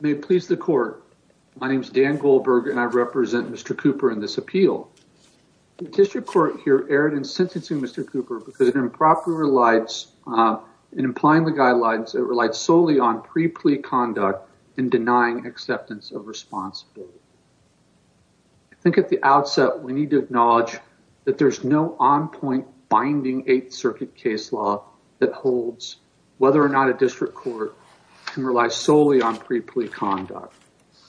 May it please the court. My name is Dan Goldberg and I represent Mr. Cooper in this appeal. The district court here erred in sentencing Mr. Cooper because it improperly relies in applying the guidelines that relied solely on pre-plea conduct and denying acceptance of responsibility. I think at the outset we need to acknowledge that there's no on-point binding eighth circuit case law that holds whether or not a district court can rely solely on pre-plea conduct.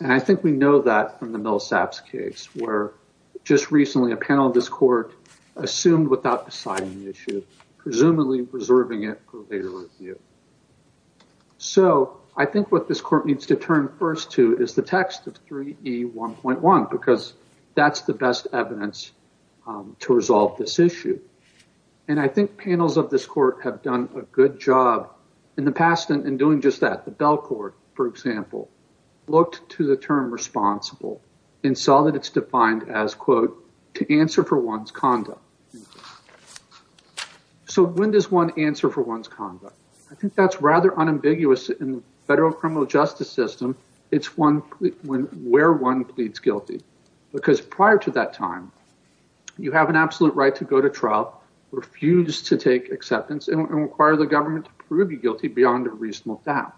And I think we know that from the Millsaps case where just recently a panel of this court assumed without deciding the issue presumably reserving it for later review. So I think what this court needs to turn first to is the text of 3E1.1 because that's the best evidence to resolve this issue. And I think panels of this court have done a good job in the past in doing just that. The Belcourt for example looked to the term responsible and saw that it's defined as quote to answer for one's conduct. So when does one answer for one's conduct? I think that's rather unambiguous in the federal justice system it's where one pleads guilty. Because prior to that time you have an absolute right to go to trial, refuse to take acceptance and require the government to prove you guilty beyond a reasonable doubt.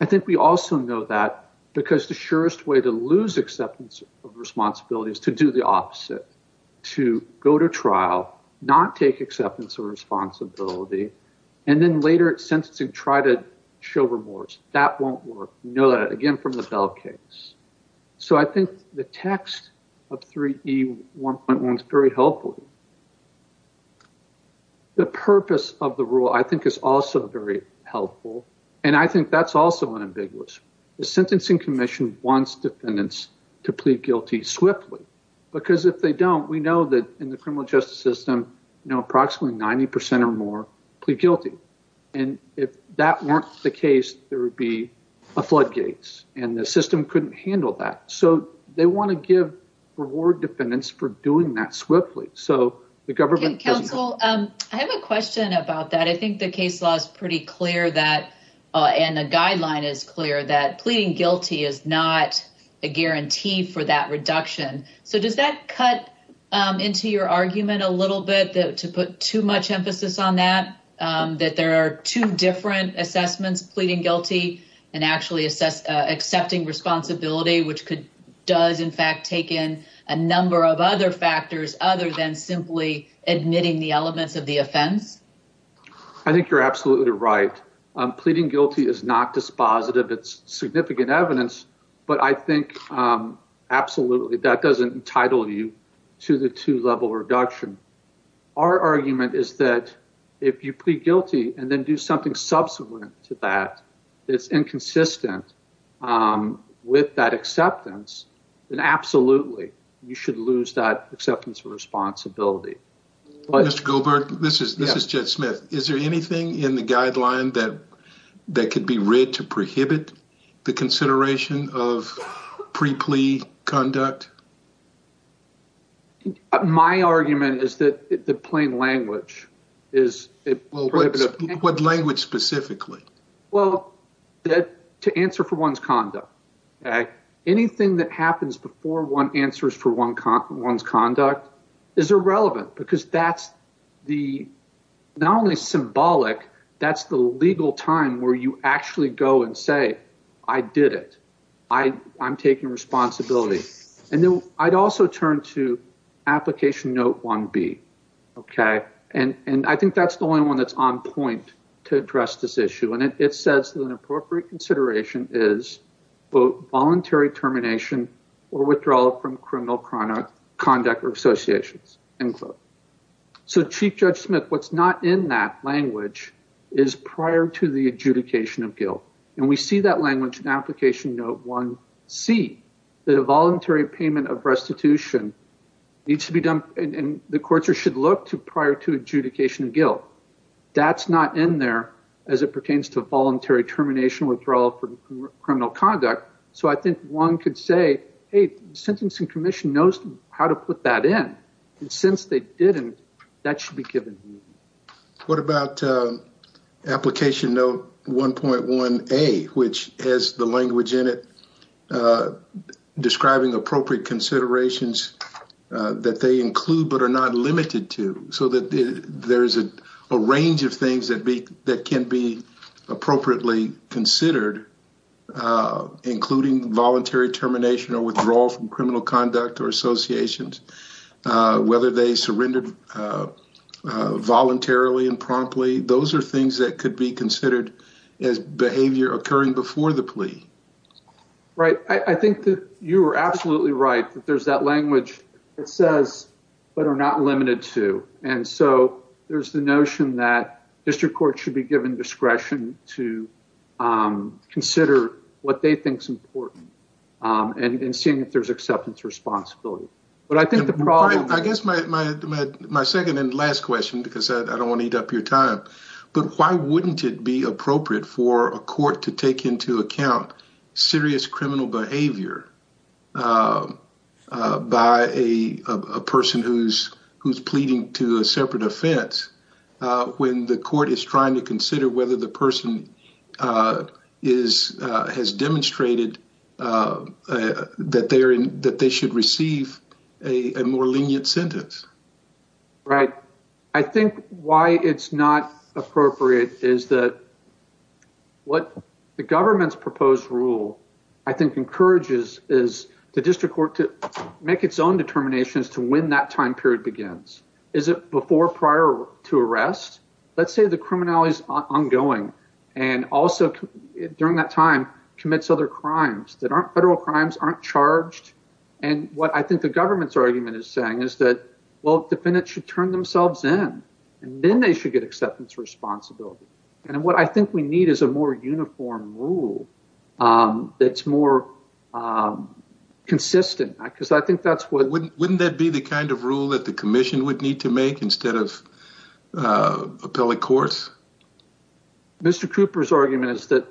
I think we also know that because the surest way to lose acceptance of responsibility is to do the opposite. To go to trial, not take acceptance of responsibility and then later at sentencing try to show remorse. That won't work. You know that again from the Bell case. So I think the text of 3E1.1 is very helpful. The purpose of the rule I think is also very helpful and I think that's also unambiguous. The Sentencing Commission wants defendants to plead guilty swiftly because if they don't we know that in the criminal justice system approximately 90 percent or more plead guilty. And if that weren't the case there would be a floodgates and the system couldn't handle that. So they want to give reward defendants for doing that swiftly. So the government doesn't. Counsel I have a question about that. I think the case law is pretty clear that and the guideline is clear that pleading guilty is not a guarantee for that reduction. So does that cut into your argument a little bit to put too much emphasis on that? That there are two different assessments pleading guilty and actually accepting responsibility which could does in fact take in a number of other factors other than simply admitting the elements of the offense. I think you're absolutely right. Pleading guilty is not dispositive. It's significant evidence but I think absolutely that doesn't entitle you to the two level reduction. Our argument is that if you plead guilty and then do something subsequent to that that's inconsistent with that acceptance then absolutely you should lose that acceptance of responsibility. Mr. Gilbert this is this is Jed Smith. Is there anything in the guideline that would justify the reduction of pre-plea conduct? My argument is that the plain language is. What language specifically? Well that to answer for one's conduct. Anything that happens before one answers for one's conduct is irrelevant because that's the not only symbolic that's the legal time where you actually go and say I did it. I'm taking responsibility and then I'd also turn to application note 1b okay and and I think that's the only one that's on point to address this issue and it says that an appropriate consideration is both voluntary termination or withdrawal from criminal conduct or associations end quote. So Chief Judge Smith what's not in that language is prior to the adjudication of guilt and we see that language in application note 1c that a voluntary payment of restitution needs to be done and the courts should look to prior to adjudication of guilt. That's not in there as it pertains to voluntary termination withdrawal from criminal conduct. So I think one could say hey the Sentencing Commission knows how to put that in and since they didn't that should be given. What about application note 1.1a which has the language in it describing appropriate considerations that they include but are not limited to so that there's a range of things that be that can be appropriately considered including voluntary termination or withdrawal from criminal conduct or associations whether they surrendered voluntarily and promptly those are things that could be considered as behavior occurring before the plea. Right I think that you are absolutely right that there's that language that says but are not limited to and so there's the notion that district courts should be given discretion to consider what they think is important and seeing if there's acceptance responsibility. But I think the problem... I guess my second and last question because I don't want to eat up your time but why wouldn't it be appropriate for a court to take into account serious criminal behavior by a person who's pleading to a separate offense when the court is trying to consider whether the person has demonstrated that they should receive a more lenient sentence. Right I think why it's not appropriate is that what the government's proposed rule I think encourages is the district court to make its own determinations to when that time period begins. Is it before prior to arrest? Let's say the criminality is ongoing and also during that time commits other crimes that aren't federal crimes aren't charged and what I think the government's argument is saying is that well defendants should turn themselves in and then they should get acceptance responsibility and what I wouldn't that be the kind of rule that the commission would need to make instead of appellate courts? Mr. Cooper's argument is that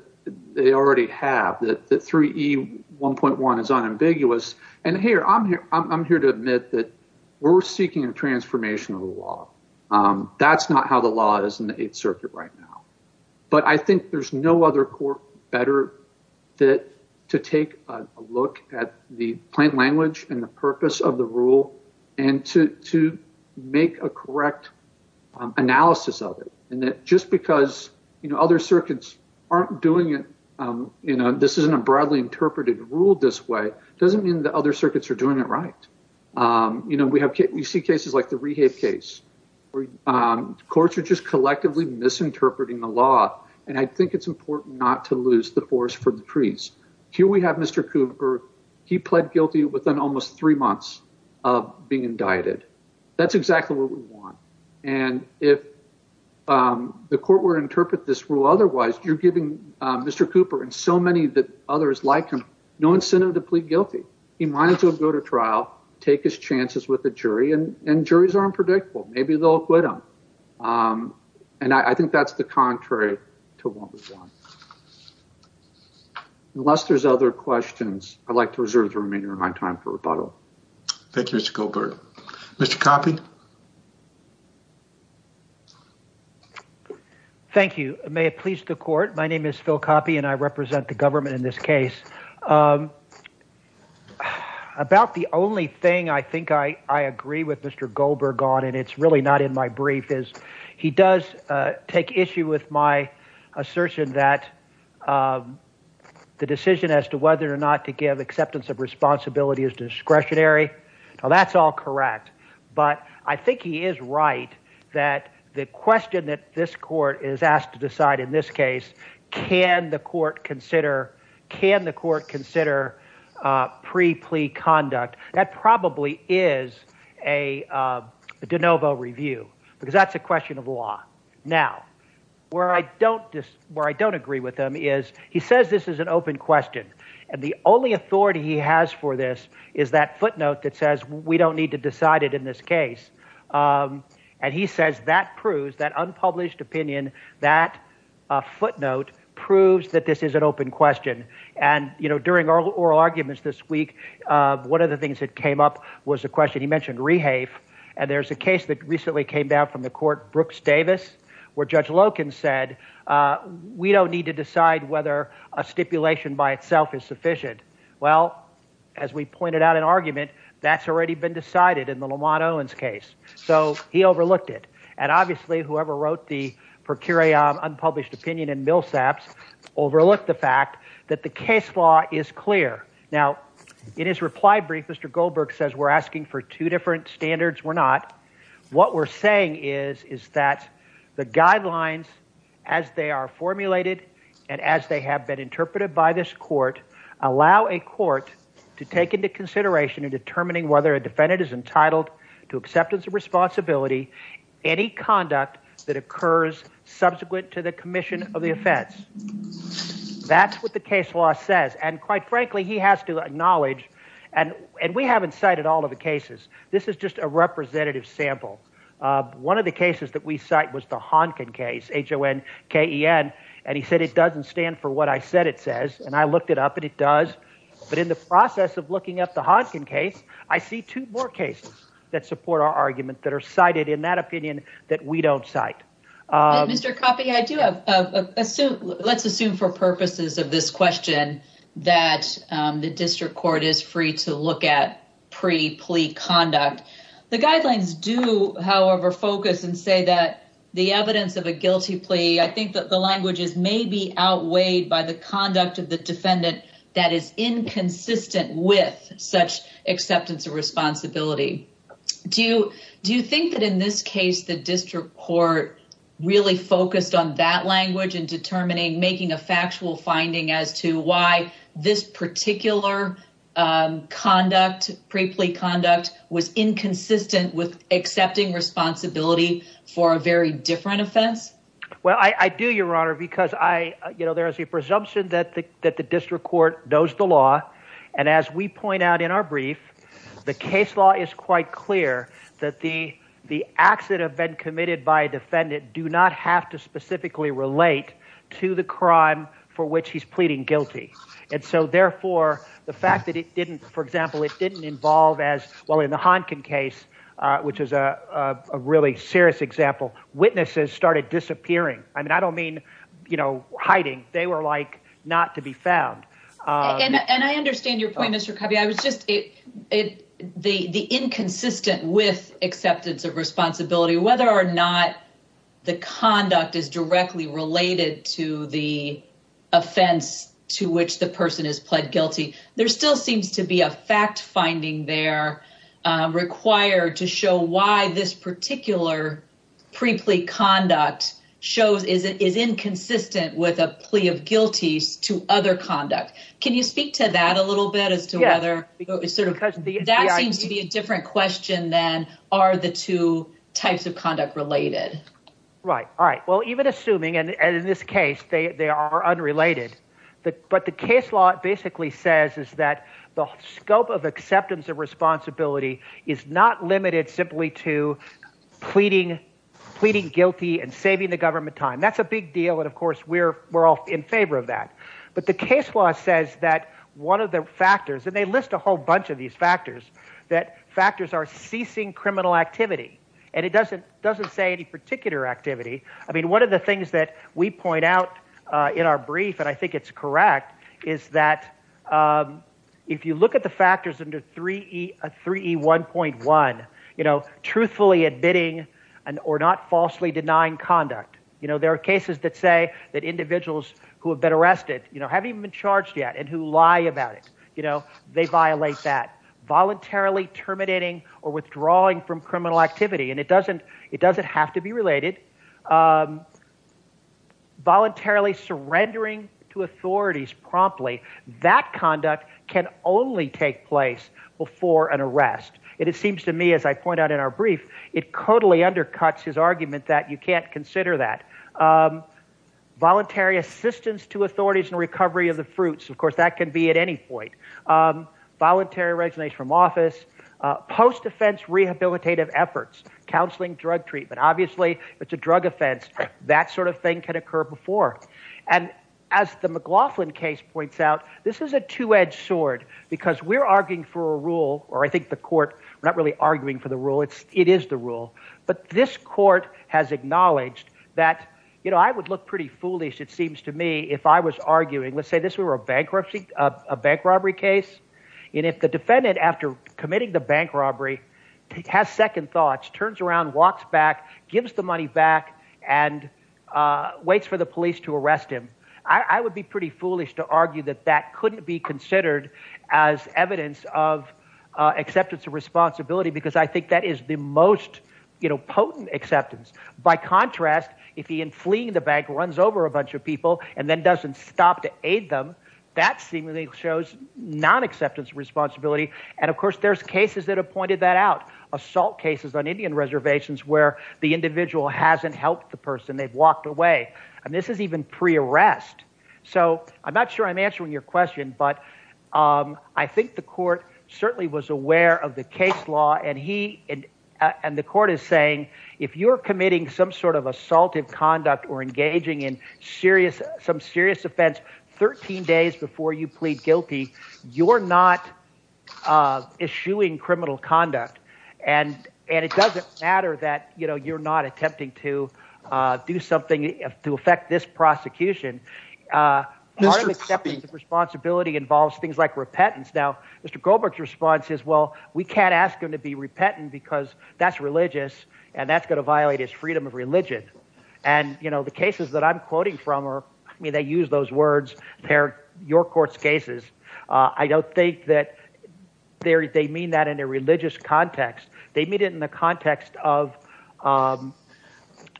they already have that 3E 1.1 is unambiguous and here I'm here I'm here to admit that we're seeking a transformation of the law. That's not how the law is in the eighth circuit right now but I think there's no other court better fit to take a look at the plain language and the purpose of the rule and to make a correct analysis of it and that just because you know other circuits aren't doing it you know this isn't a broadly interpreted rule this way doesn't mean the other circuits are doing it right. You know we have we see cases like the rehab case where courts are just collectively misinterpreting the law and I think it's important not to lose the horse for the trees. Here we have Mr. Cooper he pled guilty within almost three months of being indicted that's exactly what we want and if the court were to interpret this rule otherwise you're giving Mr. Cooper and so many that others like him no incentive to plead guilty. He might as well go to trial take his chances with the jury and and juries are unpredictable maybe they'll quit him um and I think that's the contrary to what we want. Unless there's other questions I'd like to reserve the remainder of my time for rebuttal. Thank you Mr. Goldberg. Mr. Coppi. Thank you may it please the court my name is Phil Coppi and I represent the government in this case um about the only thing I think I I agree with Mr. Goldberg on and it's really not in my brief is he does take issue with my assertion that the decision as to whether or not to give acceptance of responsibility is discretionary now that's all correct but I think he is right that the question that this court is asked to decide in this case can the court consider can the court question of law now where I don't just where I don't agree with him is he says this is an open question and the only authority he has for this is that footnote that says we don't need to decide it in this case um and he says that proves that unpublished opinion that a footnote proves that this is an open question and you know during oral arguments this week uh one of the things that came up was a question he mentioned rehafe and there's a case that recently came down from the court Brooks Davis where Judge Loken said uh we don't need to decide whether a stipulation by itself is sufficient well as we pointed out an argument that's already been decided in the Lamont Owens case so he overlooked it and obviously whoever wrote the procurator unpublished opinion in Millsaps overlooked the fact that the case law is clear now in his reply brief Mr. Goldberg says we're asking for two different standards we're not what we're saying is is that the guidelines as they are formulated and as they have been interpreted by this court allow a court to take into consideration in determining whether a defendant is entitled to acceptance of responsibility any conduct that occurs subsequent to the commission of the offense that's what the all of the cases this is just a representative sample one of the cases that we cite was the Honkin case h-o-n-k-e-n and he said it doesn't stand for what I said it says and I looked it up and it does but in the process of looking up the Honkin case I see two more cases that support our argument that are cited in that opinion that we don't cite Mr. Coffey I do have assume let's court is free to look at pre plea conduct the guidelines do however focus and say that the evidence of a guilty plea I think that the language is maybe outweighed by the conduct of the defendant that is inconsistent with such acceptance of responsibility do you do you think that in this case the district court really focused on that language and determining making a factual finding as to why this particular conduct pre plea conduct was inconsistent with accepting responsibility for a very different offense well I I do your honor because I you know there is a presumption that the that the district court knows the law and as we point out in our brief the case law is quite clear that the the acts that have been committed by a defendant do not have to specifically relate to the crime for which he's pleading guilty and so therefore the fact that it didn't for example it didn't involve as well in the Honkin case which is a really serious example witnesses started disappearing I mean I don't mean you know hiding they were like not to be found and I understand your point Mr. Coffey I was just it the the inconsistent with acceptance of responsibility whether or not the conduct is directly related to the offense to which the person is pled guilty there still seems to be a fact finding they're required to show why this particular pre plea conduct shows is it is inconsistent with a plea of guilties to other conduct can you speak to that a little bit as whether it's sort of because that seems to be a different question than are the two types of conduct related right all right well even assuming and in this case they they are unrelated but but the case law basically says is that the scope of acceptance of responsibility is not limited simply to pleading pleading guilty and saving the government time that's a big deal and of course we're we're all in favor of that but the case law says that one of the factors and they list a whole bunch of these factors that factors are ceasing criminal activity and it doesn't doesn't say any particular activity I mean one of the things that we point out uh in our brief and I think it's correct is that um if you look at the factors under 3e 3e 1.1 you know truthfully and or not falsely denying conduct you know there are cases that say that individuals who have been arrested you know haven't even been charged yet and who lie about it you know they violate that voluntarily terminating or withdrawing from criminal activity and it doesn't it doesn't have to be related um voluntarily surrendering to authorities promptly that conduct can only take place before an arrest and it seems to me as I point out in our brief it totally undercuts his argument that you can't consider that um voluntary assistance to authorities and recovery of the fruits of course that can be at any point um voluntary resignation from office uh post-defense rehabilitative efforts counseling drug treatment obviously it's a drug offense that sort of thing occur before and as the McLaughlin case points out this is a two-edged sword because we're arguing for a rule or I think the court we're not really arguing for the rule it's it is the rule but this court has acknowledged that you know I would look pretty foolish it seems to me if I was arguing let's say this were a bankruptcy a bank robbery case and if the defendant after committing the waits for the police to arrest him I would be pretty foolish to argue that that couldn't be considered as evidence of acceptance of responsibility because I think that is the most you know potent acceptance by contrast if he in fleeing the bank runs over a bunch of people and then doesn't stop to aid them that seemingly shows non-acceptance responsibility and of course there's cases that have pointed that out assault cases on Indian reservations where the individual hasn't helped the person they've walked away and this is even pre-arrest so I'm not sure I'm answering your question but um I think the court certainly was aware of the case law and he and and the court is saying if you're committing some sort of assaultive conduct or engaging in serious some serious offense 13 days before you plead guilty you're not uh issuing criminal conduct and and it doesn't matter that you know you're not attempting to uh do something to affect this prosecution uh acceptance of responsibility involves things like repentance now Mr. Goldberg's response is well we can't ask him to be repentant because that's religious and that's going to violate his freedom of religion and you know the cases that I'm quoting from are I mean they use those words they're your court's cases uh I don't think that they're they mean that in a religious context they meet it in the context of um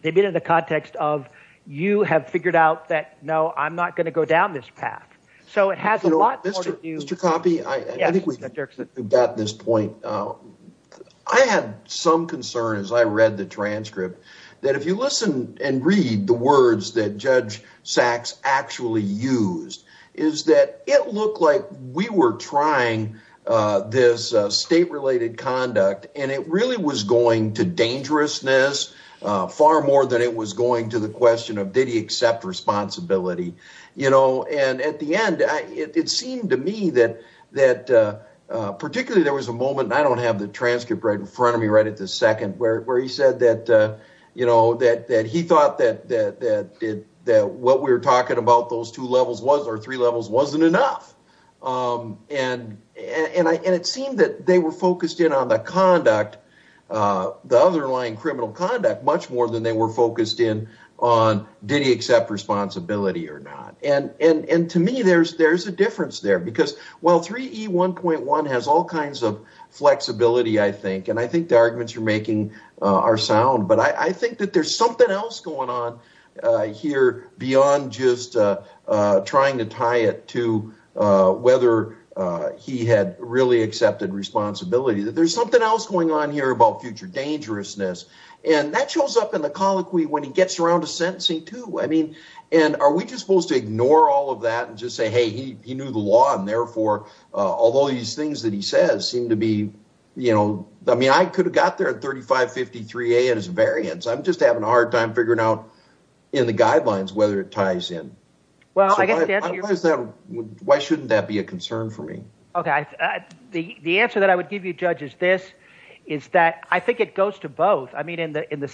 they've been in the context of you have figured out that no I'm not going to go down this path so it has a lot more to do Mr. Coppe I think we've got this point uh I had some concern as I read the transcript that if you listen and read the transcripts that Mr. Goldberg's actually used is that it looked like we were trying uh this state-related conduct and it really was going to dangerousness uh far more than it was going to the question of did he accept responsibility you know and at the end I it seemed to me that that uh particularly there was a moment and I don't have the transcript right in front of me right at the where where he said that uh you know that that he thought that that that did that what we were talking about those two levels was or three levels wasn't enough um and and I and it seemed that they were focused in on the conduct uh the underlying criminal conduct much more than they were focused in on did he accept responsibility or not and and and to me there's there's a difference there because well 3E1.1 has all kinds of flexibility I think and I think the arguments you're making are sound but I I think that there's something else going on uh here beyond just uh uh trying to tie it to uh whether uh he had really accepted responsibility that there's something else going on here about future dangerousness and that shows up in the colloquy when he gets around to sentencing too I mean and are we just supposed to ignore all of that and just say hey he he knew the law and therefore uh although these things that he says seem to be you know I mean I could have got there at 3553a and his variance I'm just having a hard time figuring out in the guidelines whether it ties in well I guess why is that why shouldn't that be a concern for me okay the the answer that I would give you judge is this is that I think it goes to both I mean in the in the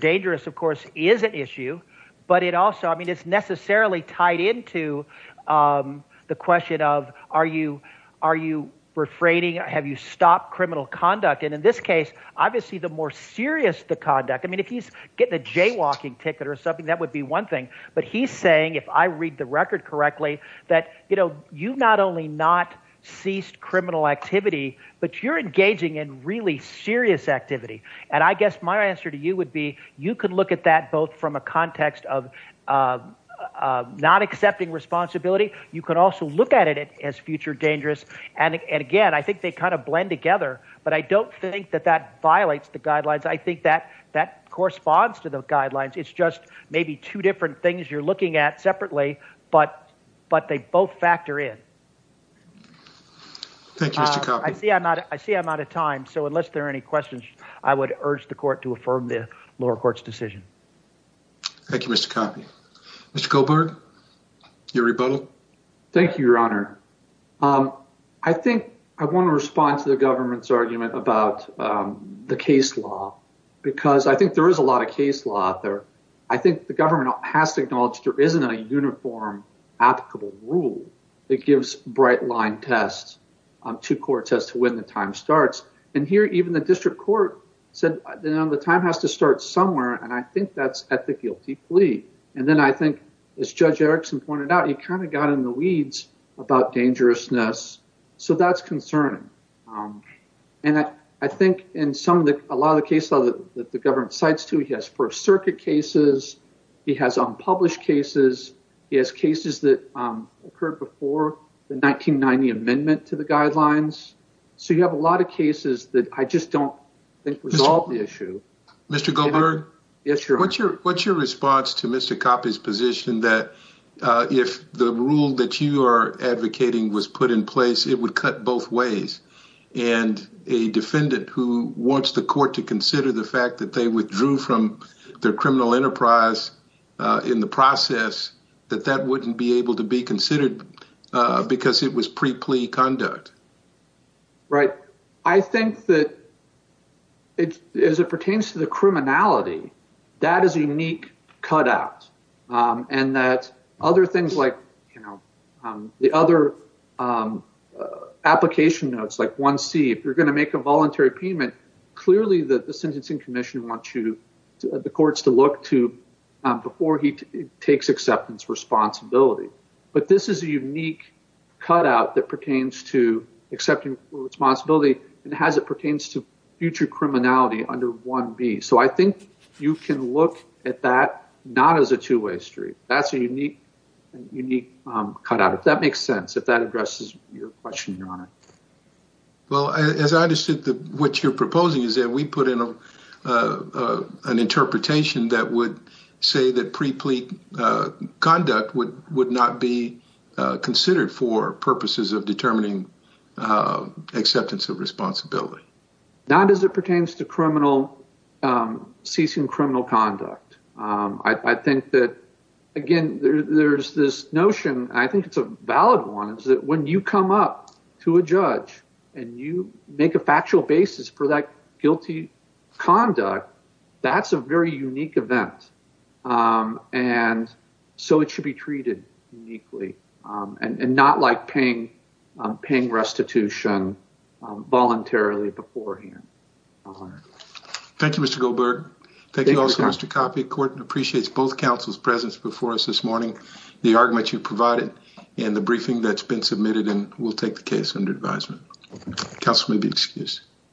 dangerous of course is an issue but it also I mean it's necessarily tied into um the question of are you are you refraining or have you stopped criminal conduct and in this case obviously the more serious the conduct I mean if he's getting a jaywalking ticket or something that would be one thing but he's saying if I read the record correctly that you know you've not only not ceased criminal activity but you're engaging in really serious activity and I guess my answer to you would be you could look at that both from a context of uh not accepting responsibility you could also look at it as future dangerous and again I think they kind of blend together but I don't think that that violates the guidelines I think that that corresponds to the guidelines it's just maybe two different things you're looking at separately but but they both factor in thank you I see I'm not I see I'm out of time so unless there are any questions I would urge the court to affirm the lower court's decision thank you Mr. Coffey Mr. Goldberg your rebuttal thank you your honor um I think I want to respond to the government's argument about um the case law because I think there is a lot of case law out there I think the government has to acknowledge there isn't a uniform applicable rule that gives bright line tests to courts as to when the time starts and here even the district court said you know the time has to start somewhere and I think that's at the guilty plea and then I think as Judge Erickson pointed out he kind of got in the weeds about dangerousness so that's concerning and I think in some of the a lot of the case law that the government cites too he has first 1990 amendment to the guidelines so you have a lot of cases that I just don't think resolve the issue Mr. Goldberg yes your what's your what's your response to Mr. Coffey's position that if the rule that you are advocating was put in place it would cut both ways and a defendant who wants the court to consider the fact that they withdrew from their criminal enterprise in the that that wouldn't be able to be considered because it was pre-plea conduct right I think that it as it pertains to the criminality that is a unique cut out and that other things like you know the other application notes like 1c if you're going to make a voluntary payment clearly the sentencing commission wants you to the courts to look to before he takes acceptance responsibility but this is a unique cut out that pertains to accepting responsibility and has it pertains to future criminality under 1b so I think you can look at that not as a two-way street that's a unique unique cut out if that makes sense if that addresses your question your honor well as I understood that what you're proposing is that we put in a an interpretation that would say that pre-plea conduct would would not be considered for purposes of determining acceptance of responsibility not as it pertains to criminal ceasing criminal conduct I think that again there's this notion I think it's a valid one that when you come up to a judge and you make a factual basis for that guilty conduct that's a very unique event and so it should be treated uniquely and not like paying paying restitution voluntarily beforehand. Thank you Mr. Goldberg. Thank you also Mr. Coffey. Court appreciates both counsel's presence before us this morning the argument you provided and the briefing that's been submitted and we'll take the case under advisement. Counsel may be excused.